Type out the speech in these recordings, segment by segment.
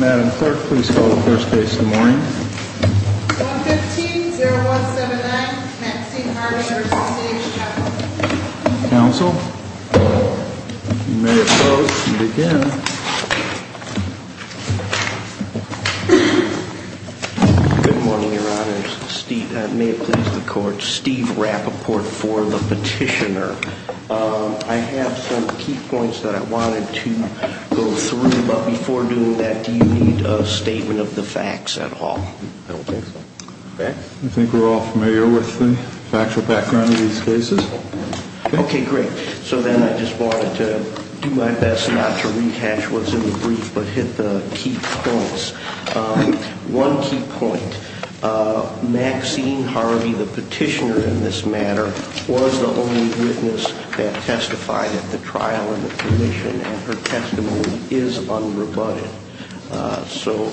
Madam Clerk, please call the first case of the morning. 115-0179, Maxine Harding v. Davis Chapel. Counsel, you may close and begin. Good morning, Your Honors. May it please the Court, Steve Rappaport for the Petitioner. I have some key points that I wanted to go through, but before doing that, do you need a statement of the facts at all? I don't think so. I think we're all familiar with the factual background of these cases. Okay, great. So then I just wanted to do my best not to rehash what's in the brief, but hit the key points. One key point, Maxine Harvey, the petitioner in this matter, was the only witness that testified at the trial and the commission, and her testimony is unrebutted. So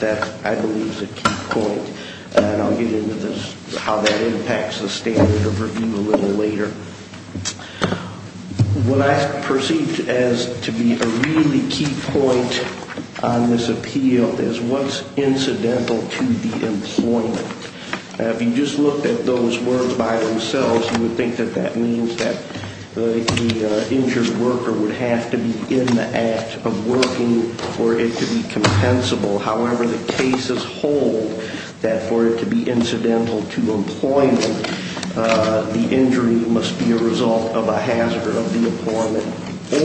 that, I believe, is a key point, and I'll get into how that impacts the standard of review a little later. What I perceived as to be a really key point on this appeal is what's incidental to the employment. If you just looked at those words by themselves, you would think that that means that the injured worker would have to be in the act of working for it to be compensable. However, the cases hold that for it to be incidental to employment, the injury must be a result of a hazard of the employment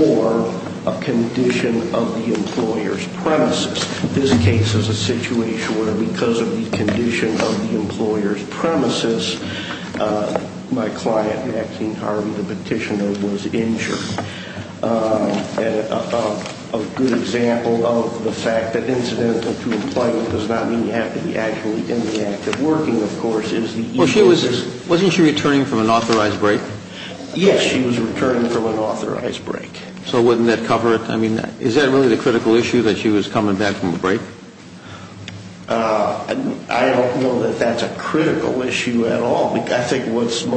or a condition of the employer's premises. This case is a situation where, because of the condition of the employer's premises, my client, Maxine Harvey, the petitioner, was injured. And a good example of the fact that incidental to employment does not mean you have to be actually in the act of working, of course, is the issue is... Wasn't she returning from an authorized break? Yes, she was returning from an authorized break. So wouldn't that cover it? I mean, is that really the critical issue, that she was coming back from a break? I don't know that that's a critical issue at all. I think what's the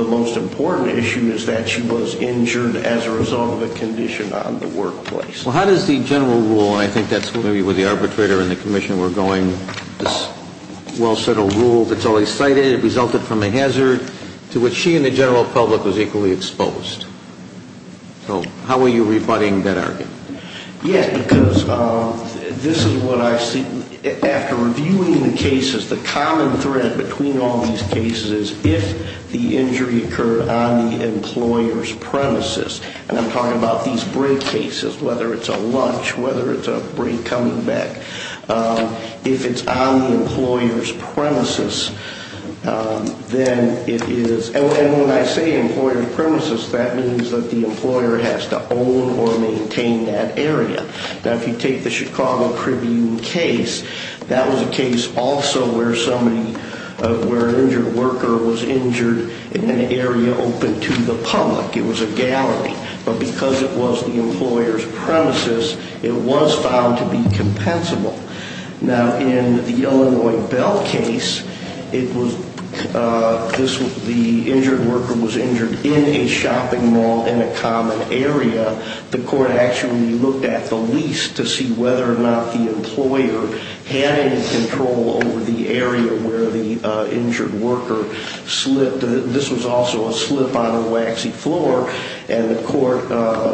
most important issue is that she was injured as a result of a condition on the workplace. Well, how does the general rule, and I think that's maybe where the arbitrator and the commissioner were going, this well-settled rule that's always cited, it resulted from a hazard to which she and the general public was equally exposed. So how are you rebutting that argument? Yes, because this is what I see. After reviewing the cases, the common thread between all these cases is if the injury occurred on the employer's premises, and I'm talking about these break cases, whether it's a lunch, whether it's a break coming back, if it's on the employer's premises, then it is... And when I say employer's premises, that means that the employer has to own or maintain that area. Now, if you take the Chicago Tribune case, that was a case also where an injured worker was injured in an area open to the public. It was a gallery. But because it was the employer's premises, it was found to be compensable. Now, in the Illinois Bell case, the injured worker was injured in a shopping mall in a common area. The court actually looked at the lease to see whether or not the employer had any control over the area where the injured worker slipped. This was also a slip on a waxy floor, and the court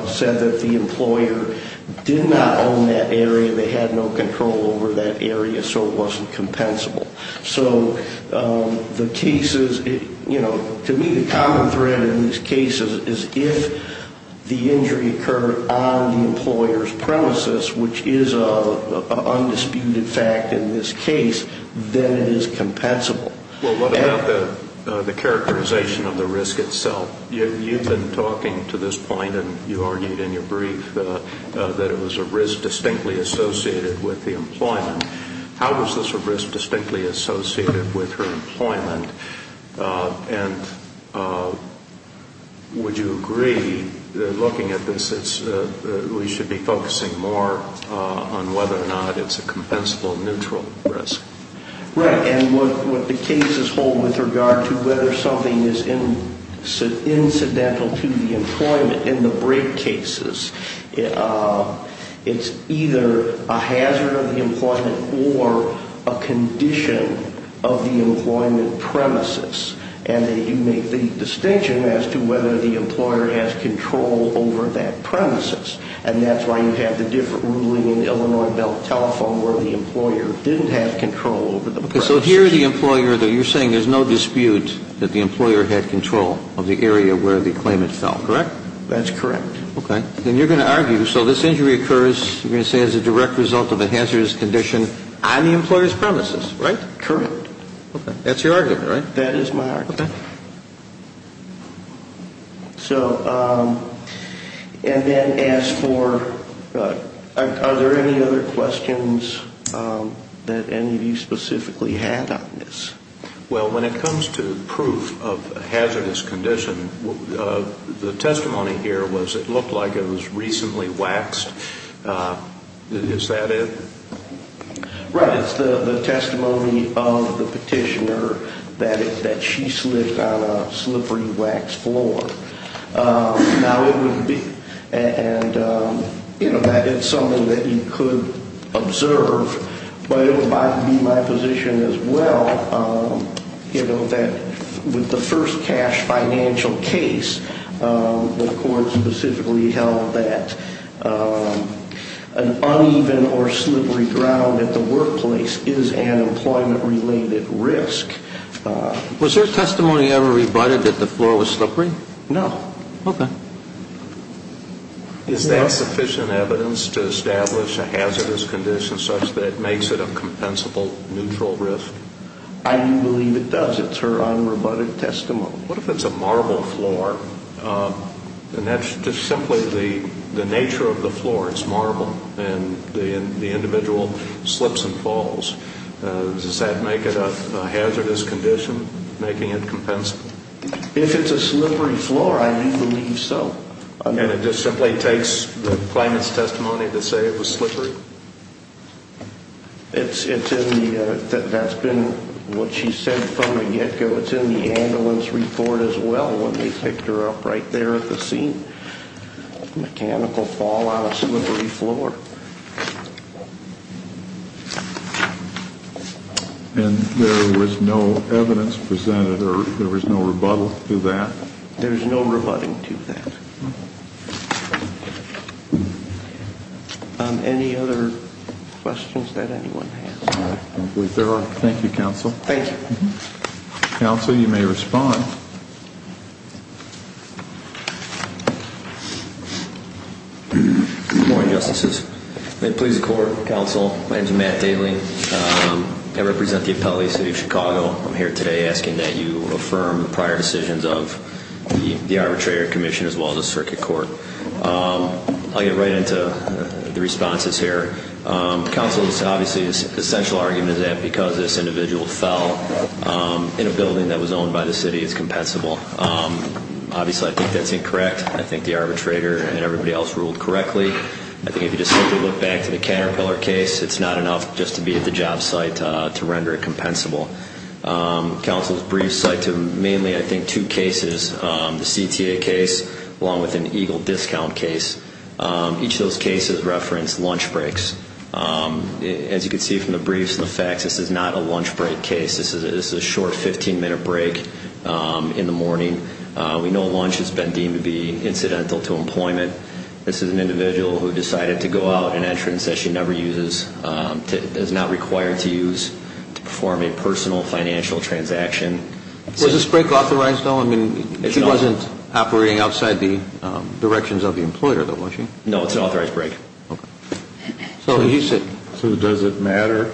said that the employer did not own that area. They had no control over that area, so it wasn't compensable. So the cases, you know, to me the common thread in these cases is if the injury occurred on the employer's premises, which is an undisputed fact in this case, then it is compensable. Well, what about the characterization of the risk itself? You've been talking to this point, and you argued in your brief that it was a risk distinctly associated with the employment. How is this a risk distinctly associated with her employment? And would you agree that looking at this, we should be focusing more on whether or not it's a compensable neutral risk? Right, and what the cases hold with regard to whether something is incidental to the employment in the break cases, it's either a hazard of the employment or a condition of the employment premises, and that you make the distinction as to whether the employer has control over that premises. And that's why you have the different ruling in the Illinois belt telephone where the employer didn't have control over the premises. So here the employer, you're saying there's no dispute that the employer had control of the area where the claimant fell, correct? That's correct. Okay. Then you're going to argue, so this injury occurs, you're going to say, as a direct result of a hazardous condition on the employer's premises, right? Correct. Okay. That's your argument, right? That is my argument. Okay. And then as for, are there any other questions that any of you specifically had on this? Well, when it comes to proof of a hazardous condition, the testimony here was it looked like it was recently waxed. Is that it? Right. It's the testimony of the petitioner that she slipped on a slippery wax floor. Now, it would be, and, you know, that is something that you could observe, but it would be my position as well, you know, that with the first cash financial case, the court specifically held that an uneven or slippery ground at the workplace is an employment-related risk. Was her testimony ever rebutted that the floor was slippery? No. Okay. Is that sufficient evidence to establish a hazardous condition such that it makes it a compensable neutral risk? I do believe it does. It's her unrebutted testimony. What if it's a marble floor, and that's just simply the nature of the floor, it's marble, and the individual slips and falls? Does that make it a hazardous condition, making it compensable? If it's a slippery floor, I do believe so. And it just simply takes the plaintiff's testimony to say it was slippery? It's in the, that's been what she said from the get-go. It's in the ambulance report as well when they picked her up right there at the scene. Mechanical fall on a slippery floor. And there was no evidence presented, or there was no rebuttal to that? There's no rebutting to that. Any other questions that anyone has? I don't believe there are. Thank you, Counsel. Thank you. Counsel, you may respond. Good morning, Justices. May it please the Court, Counsel, my name is Matt Daly. I represent the Appellee City of Chicago. I'm here today asking that you affirm the prior decisions of the Arbitrator Commission as well as the Circuit Court. I'll get right into the responses here. Counsel, obviously the essential argument is that because this individual fell in a building that was owned by the city, it's compensable. Obviously I think that's incorrect. I think the arbitrator and everybody else ruled correctly. I think if you just simply look back to the Caterpillar case, it's not enough just to be at the job site to render it compensable. Counsel's briefs cite to mainly, I think, two cases, the CTA case along with an EGLE discount case. Each of those cases referenced lunch breaks. As you can see from the briefs and the facts, this is not a lunch break case. This is a short 15-minute break in the morning. We know lunch has been deemed to be incidental to employment. This is an individual who decided to go out an entrance that she never uses, is not required to use to perform a personal financial transaction. Was this break authorized, though? I mean, she wasn't operating outside the directions of the employer, though, was she? No, it's an authorized break. Okay. So does it matter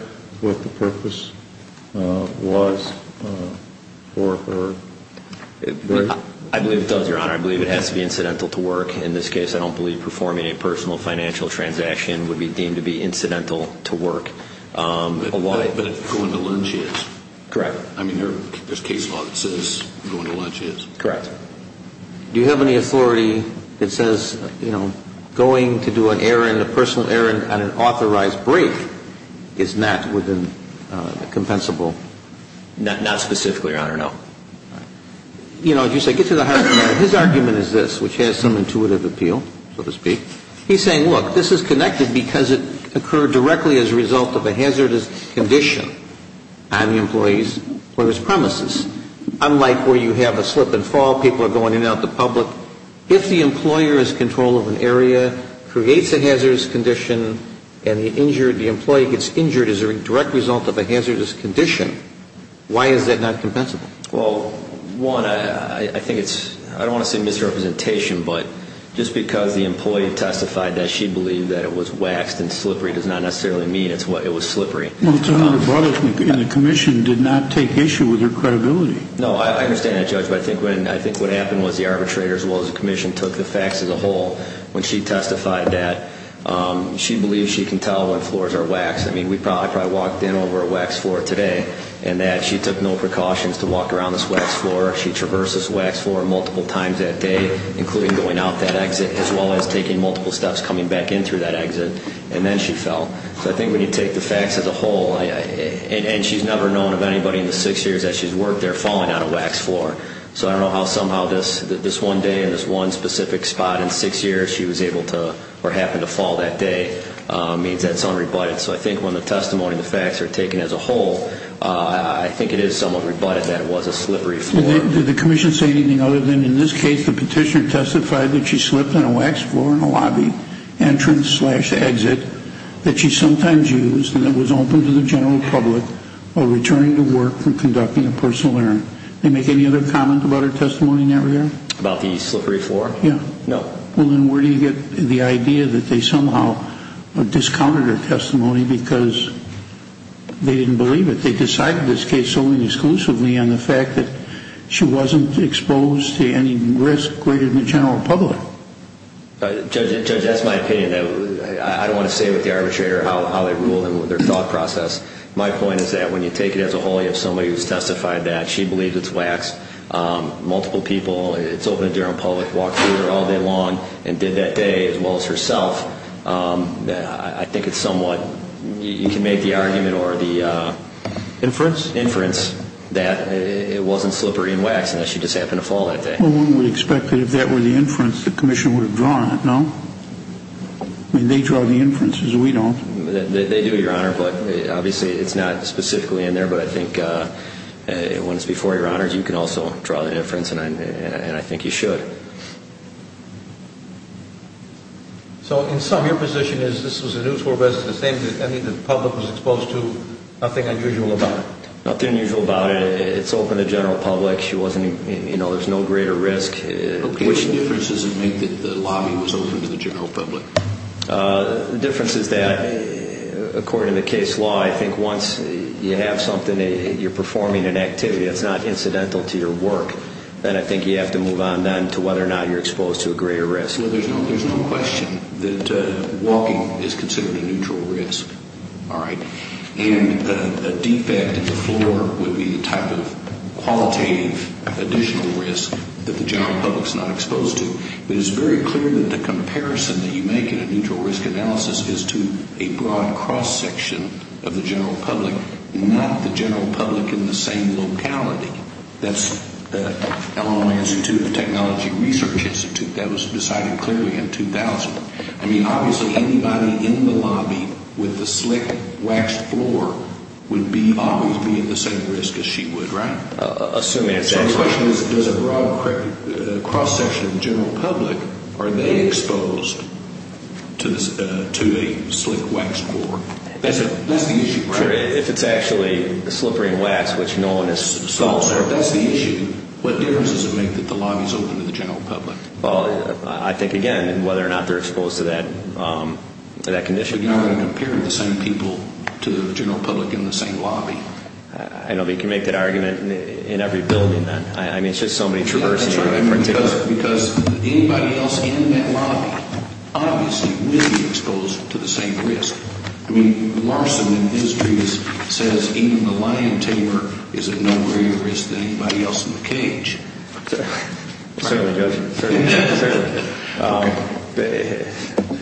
what the purpose was for her break? I believe it does, Your Honor. I believe it has to be incidental to work. In this case, I don't believe performing a personal financial transaction would be deemed to be incidental to work. But going to lunch is. Correct. I mean, there's case law that says going to lunch is. Correct. Do you have any authority that says, you know, going to do an errand, a personal errand on an authorized break is not within the compensable? Not specifically, Your Honor, no. You know, as you say, get to the heart of the matter. His argument is this, which has some intuitive appeal, so to speak. He's saying, look, this is connected because it occurred directly as a result of a hazardous condition on the employee's premises. Unlike where you have a slip and fall, people are going in and out in the public. If the employer is in control of an area, creates a hazardous condition, and the injured, the employee gets injured as a direct result of a hazardous condition, why is that not compensable? Well, one, I think it's, I don't want to say misrepresentation, but just because the employee testified that she believed that it was waxed and slippery does not necessarily mean it was slippery. Well, it's only because the Commission did not take issue with her credibility. No, I understand that, Judge, but I think what happened was the arbitrator, as well as the Commission, took the facts as a whole. When she testified that she believes she can tell when floors are waxed. I mean, we probably walked in over a wax floor today, and that she took no precautions to walk around this wax floor. She traversed this wax floor multiple times that day, including going out that exit, as well as taking multiple steps coming back in through that exit, and then she fell. So I think when you take the facts as a whole, and she's never known of anybody in the six years that she's worked there falling on a wax floor. So I don't know how somehow this one day in this one specific spot in six years she was able to, or happened to fall that day, means that's unrebutted. So I think when the testimony and the facts are taken as a whole, I think it is somewhat rebutted that it was a slippery floor. Did the Commission say anything other than in this case the petitioner testified that she slipped on a wax floor in a lobby entrance-slash-exit that she sometimes used and that was open to the general public while returning to work from conducting a personal errand? Did they make any other comment about her testimony in that regard? About the slippery floor? Yeah. No. Well, then where do you get the idea that they somehow discounted her testimony because they didn't believe it? They decided this case solely and exclusively on the fact that she wasn't exposed to any risk greater than the general public. Judge, that's my opinion. I don't want to say with the arbitrator how they ruled and their thought process. My point is that when you take it as a whole, you have somebody who's testified that she believed it's wax, multiple people, it's open to the general public, walked through it all day long and did that day as well as herself, I think it's somewhat, you can make the argument or the inference that it wasn't slippery and wax and that she just happened to fall that day. Well, one would expect that if that were the inference, the Commission would have drawn it, no? I mean, they draw the inferences, we don't. They do, Your Honor, but obviously it's not specifically in there, but I think when it's before Your Honors, you can also draw the inference and I think you should. So, in sum, your position is this was a new tour bus, the same as any the public was exposed to, nothing unusual about it? Nothing unusual about it. It's open to the general public. She wasn't, you know, there's no greater risk. Okay. What difference does it make that the lobby was open to the general public? The difference is that, according to the case law, I think once you have something, you're performing an activity. It's not incidental to your work. Then I think you have to move on then to whether or not you're exposed to a greater risk. Well, there's no question that walking is considered a neutral risk. All right. And a defect in the floor would be the type of qualitative additional risk that the general public's not exposed to. But it's very clear that the comparison that you make in a neutral risk analysis is to a broad cross-section of the general public, not the general public in the same locality. That's the Illinois Institute of Technology Research Institute. That was decided clearly in 2000. I mean, obviously, anybody in the lobby with a slick, waxed floor would always be at the same risk as she would, right? Assuming that's the case. So the question is does a broad cross-section of the general public, are they exposed to a slick, waxed floor? That's the issue. If it's actually a slippery and waxed, which Nolan has solved there, that's the issue. What difference does it make that the lobby is open to the general public? Well, I think, again, whether or not they're exposed to that condition. But you're not going to compare the same people to the general public in the same lobby. I know, but you can make that argument in every building then. I mean, it's just so many traversing. Because anybody else in that lobby obviously will be exposed to the same risk. I mean, Larson in his case says even the lion tamer is at no greater risk than anybody else in the cage. Certainly, Judge. Certainly.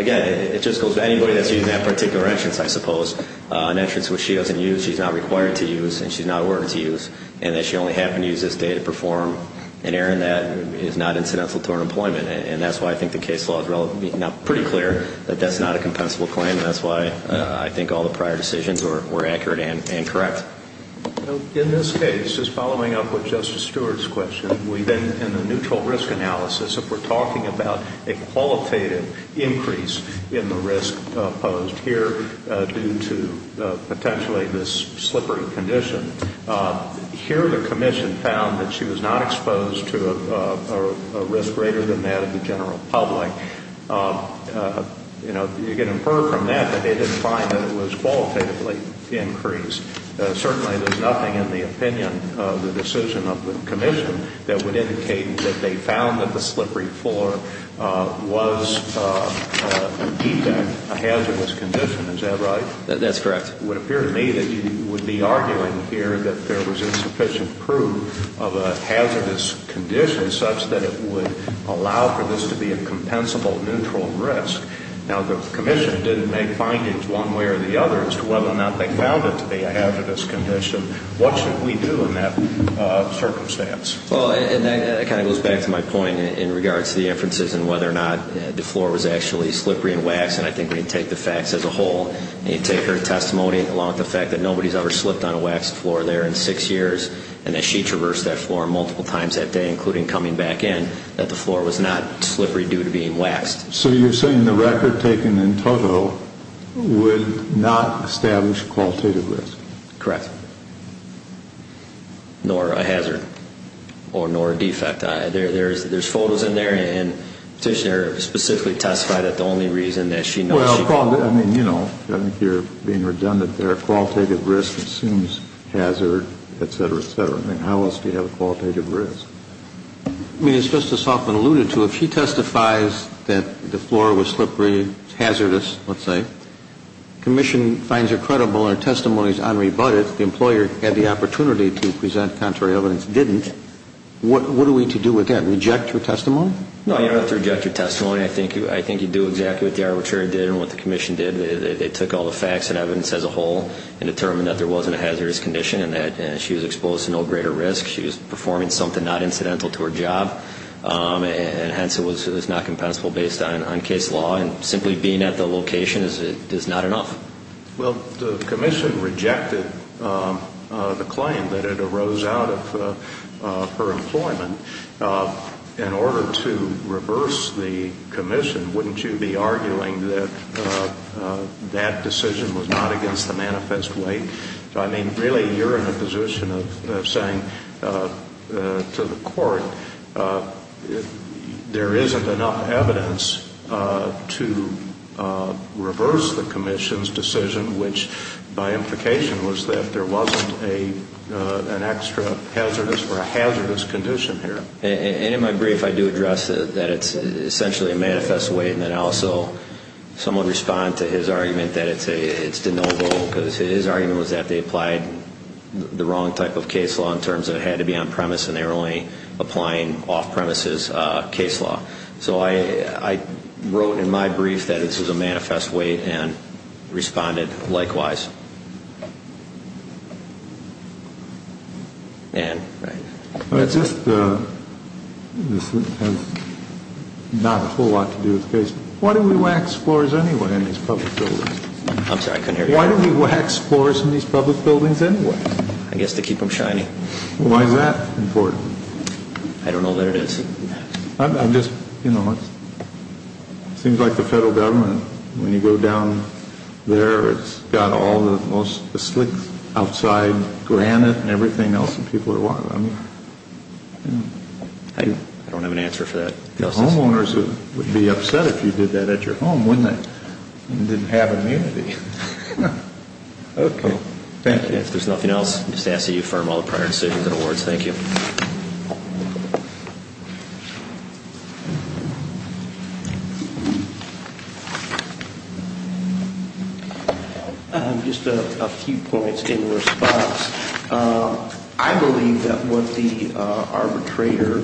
Again, it just goes to anybody that's using that particular entrance, I suppose, an entrance which she doesn't use, she's not required to use and she's not ordered to use, and that she only happened to use this day to perform an errand that is not incidental to her employment. And that's why I think the case law is pretty clear that that's not a compensable claim, and that's why I think all the prior decisions were accurate and correct. In this case, just following up with Justice Stewart's question, in the neutral risk analysis, if we're talking about a qualitative increase in the risk posed here due to potentially this slippery condition, here the commission found that she was not exposed to a risk greater than that of the general public. You know, you can infer from that that they didn't find that it was qualitatively increased. Certainly, there's nothing in the opinion of the decision of the commission that would indicate that they found that the slippery floor was a defect, a hazardous condition. Is that right? That's correct. It would appear to me that you would be arguing here that there was insufficient proof of a hazardous condition such that it would allow for this to be a compensable neutral risk. Now, the commission didn't make findings one way or the other as to whether or not they found it to be a hazardous condition. What should we do in that circumstance? Well, and that kind of goes back to my point in regards to the inferences and whether or not the floor was actually slippery and waxed, and I think we can take the facts as a whole. You take her testimony along with the fact that nobody's ever slipped on a waxed floor there in six years and that she traversed that floor multiple times that day, including coming back in, that the floor was not slippery due to being waxed. So you're saying the record taken in total would not establish a qualitative risk? Correct. Nor a hazard or nor a defect. There's photos in there, and the petitioner specifically testified that the only reason that she knows she can't I think you're being redundant there. Qualitative risk assumes hazard, et cetera, et cetera. I mean, how else do you have a qualitative risk? I mean, as Justice Hoffman alluded to, if she testifies that the floor was slippery, hazardous, let's say, commission finds her credible and her testimony is unrebutted, the employer had the opportunity to present contrary evidence, didn't, what are we to do with that? Reject her testimony? No, you don't have to reject her testimony. I think you do exactly what the arbitrator did and what the commission did. They took all the facts and evidence as a whole and determined that there wasn't a hazardous condition and that she was exposed to no greater risk. She was performing something not incidental to her job, and hence it was not compensable based on case law. And simply being at the location is not enough. Well, the commission rejected the claim that it arose out of her employment. In order to reverse the commission, wouldn't you be arguing that that decision was not against the manifest way? I mean, really, you're in a position of saying to the court, there isn't enough evidence to reverse the commission's decision, which by implication was that there wasn't an extra hazardous or a hazardous condition here. And in my brief, I do address that it's essentially a manifest way, and then I also somewhat respond to his argument that it's de novo, because his argument was that they applied the wrong type of case law in terms of it had to be on premise and they were only applying off-premises case law. So I wrote in my brief that this was a manifest way and responded likewise. And, right. This has not a whole lot to do with the case. Why do we wax floors anyway in these public buildings? I'm sorry, I couldn't hear you. Why do we wax floors in these public buildings anyway? I guess to keep them shiny. Why is that important? I don't know that it is. I'm just, you know, it seems like the federal government, when you go down there, it's got all the most slick outside granite and everything else that people are wanting. I don't have an answer for that. The homeowners would be upset if you did that at your home, wouldn't they? And didn't have immunity. Okay. Thank you. If there's nothing else, just ask that you affirm all the prior decisions and awards. Thank you. Just a few points in response. I believe that what the arbitrator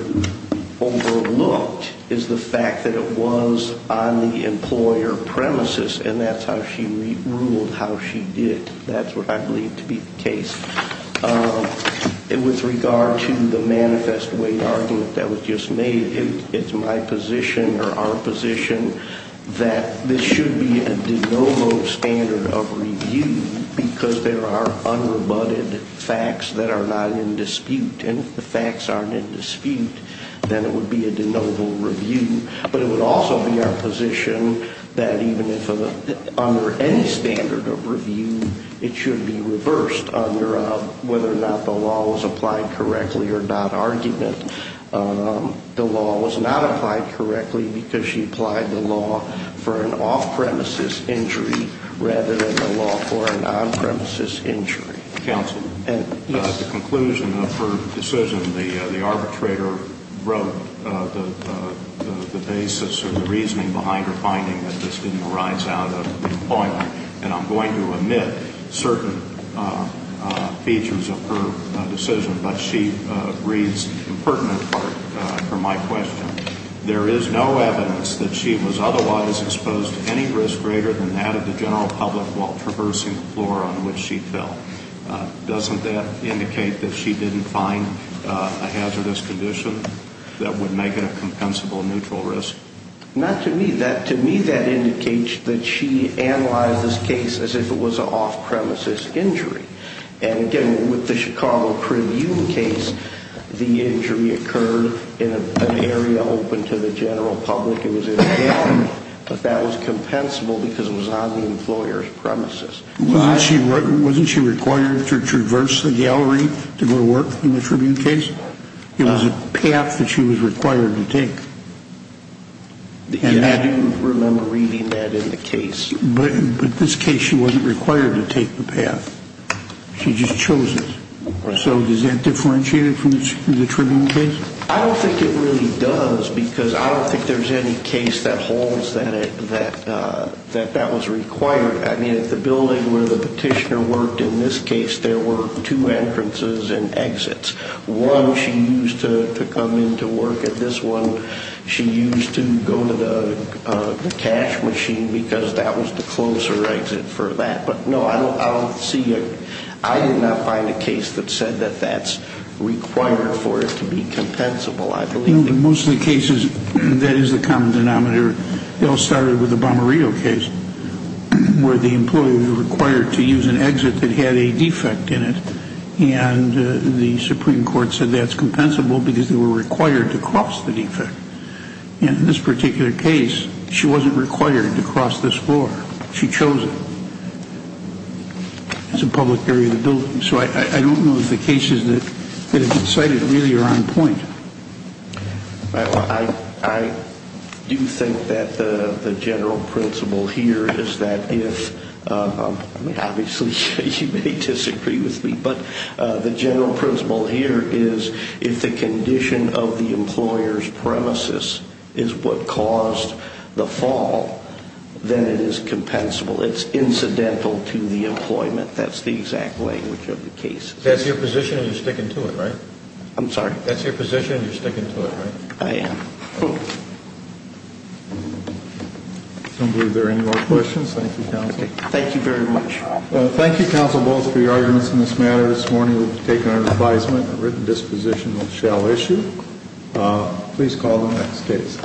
overlooked is the fact that it was on the employer premises and that's how she ruled how she did. That's what I believe to be the case. With regard to the manifest weight argument that was just made, it's my position or our position that this should be a de novo standard of review because there are unrebutted facts that are not in dispute. And if the facts aren't in dispute, then it would be a de novo review. But it would also be our position that even if under any standard of review, it should be reversed under whether or not the law was applied correctly or not argument. The law was not applied correctly because she applied the law for an off-premises injury rather than the law for an on-premises injury. Counsel. Yes. At the conclusion of her decision, the arbitrator wrote the basis or the reasoning behind her finding that this didn't arise out of employment. And I'm going to omit certain features of her decision, but she reads the pertinent part of my question. There is no evidence that she was otherwise exposed to any risk greater than that of the general public while traversing the floor on which she fell. Doesn't that indicate that she didn't find a hazardous condition that would make it a compensable neutral risk? Not to me. To me, that indicates that she analyzed this case as if it was an off-premises injury. And, again, with the Chicago Preview case, the injury occurred in an area open to the general public. It was in a gallery, but that was compensable because it was on the employer's premises. Wasn't she required to traverse the gallery to go to work in the Tribune case? It was a path that she was required to take. I do remember reading that in the case. But in this case, she wasn't required to take the path. She just chose it. So does that differentiate it from the Tribune case? I don't think it really does because I don't think there's any case that holds that that was required. I mean, at the building where the petitioner worked in this case, there were two entrances and exits. One, she used to come in to work at this one. She used to go to the cash machine because that was the closer exit for that. But, no, I don't see it. I did not find a case that said that that's required for it to be compensable. In most of the cases, that is the common denominator. It all started with the Bomarillo case where the employee was required to use an exit that had a defect in it. And the Supreme Court said that's compensable because they were required to cross the defect. In this particular case, she wasn't required to cross this floor. She chose it. It's a public area of the building. So I don't know if the cases that have been cited really are on point. I do think that the general principle here is that if, obviously, you may disagree with me, but the general principle here is if the condition of the employer's premises is what caused the fall, then it is compensable. It's incidental to the employment. That's the exact language of the case. That's your position and you're sticking to it, right? I'm sorry? That's your position and you're sticking to it, right? I am. I don't believe there are any more questions. Thank you, Counsel. Thank you very much. Thank you, Counsel Bowles, for your arguments in this matter. This morning we've taken our advisement. A written disposition shall issue. Please call the next case.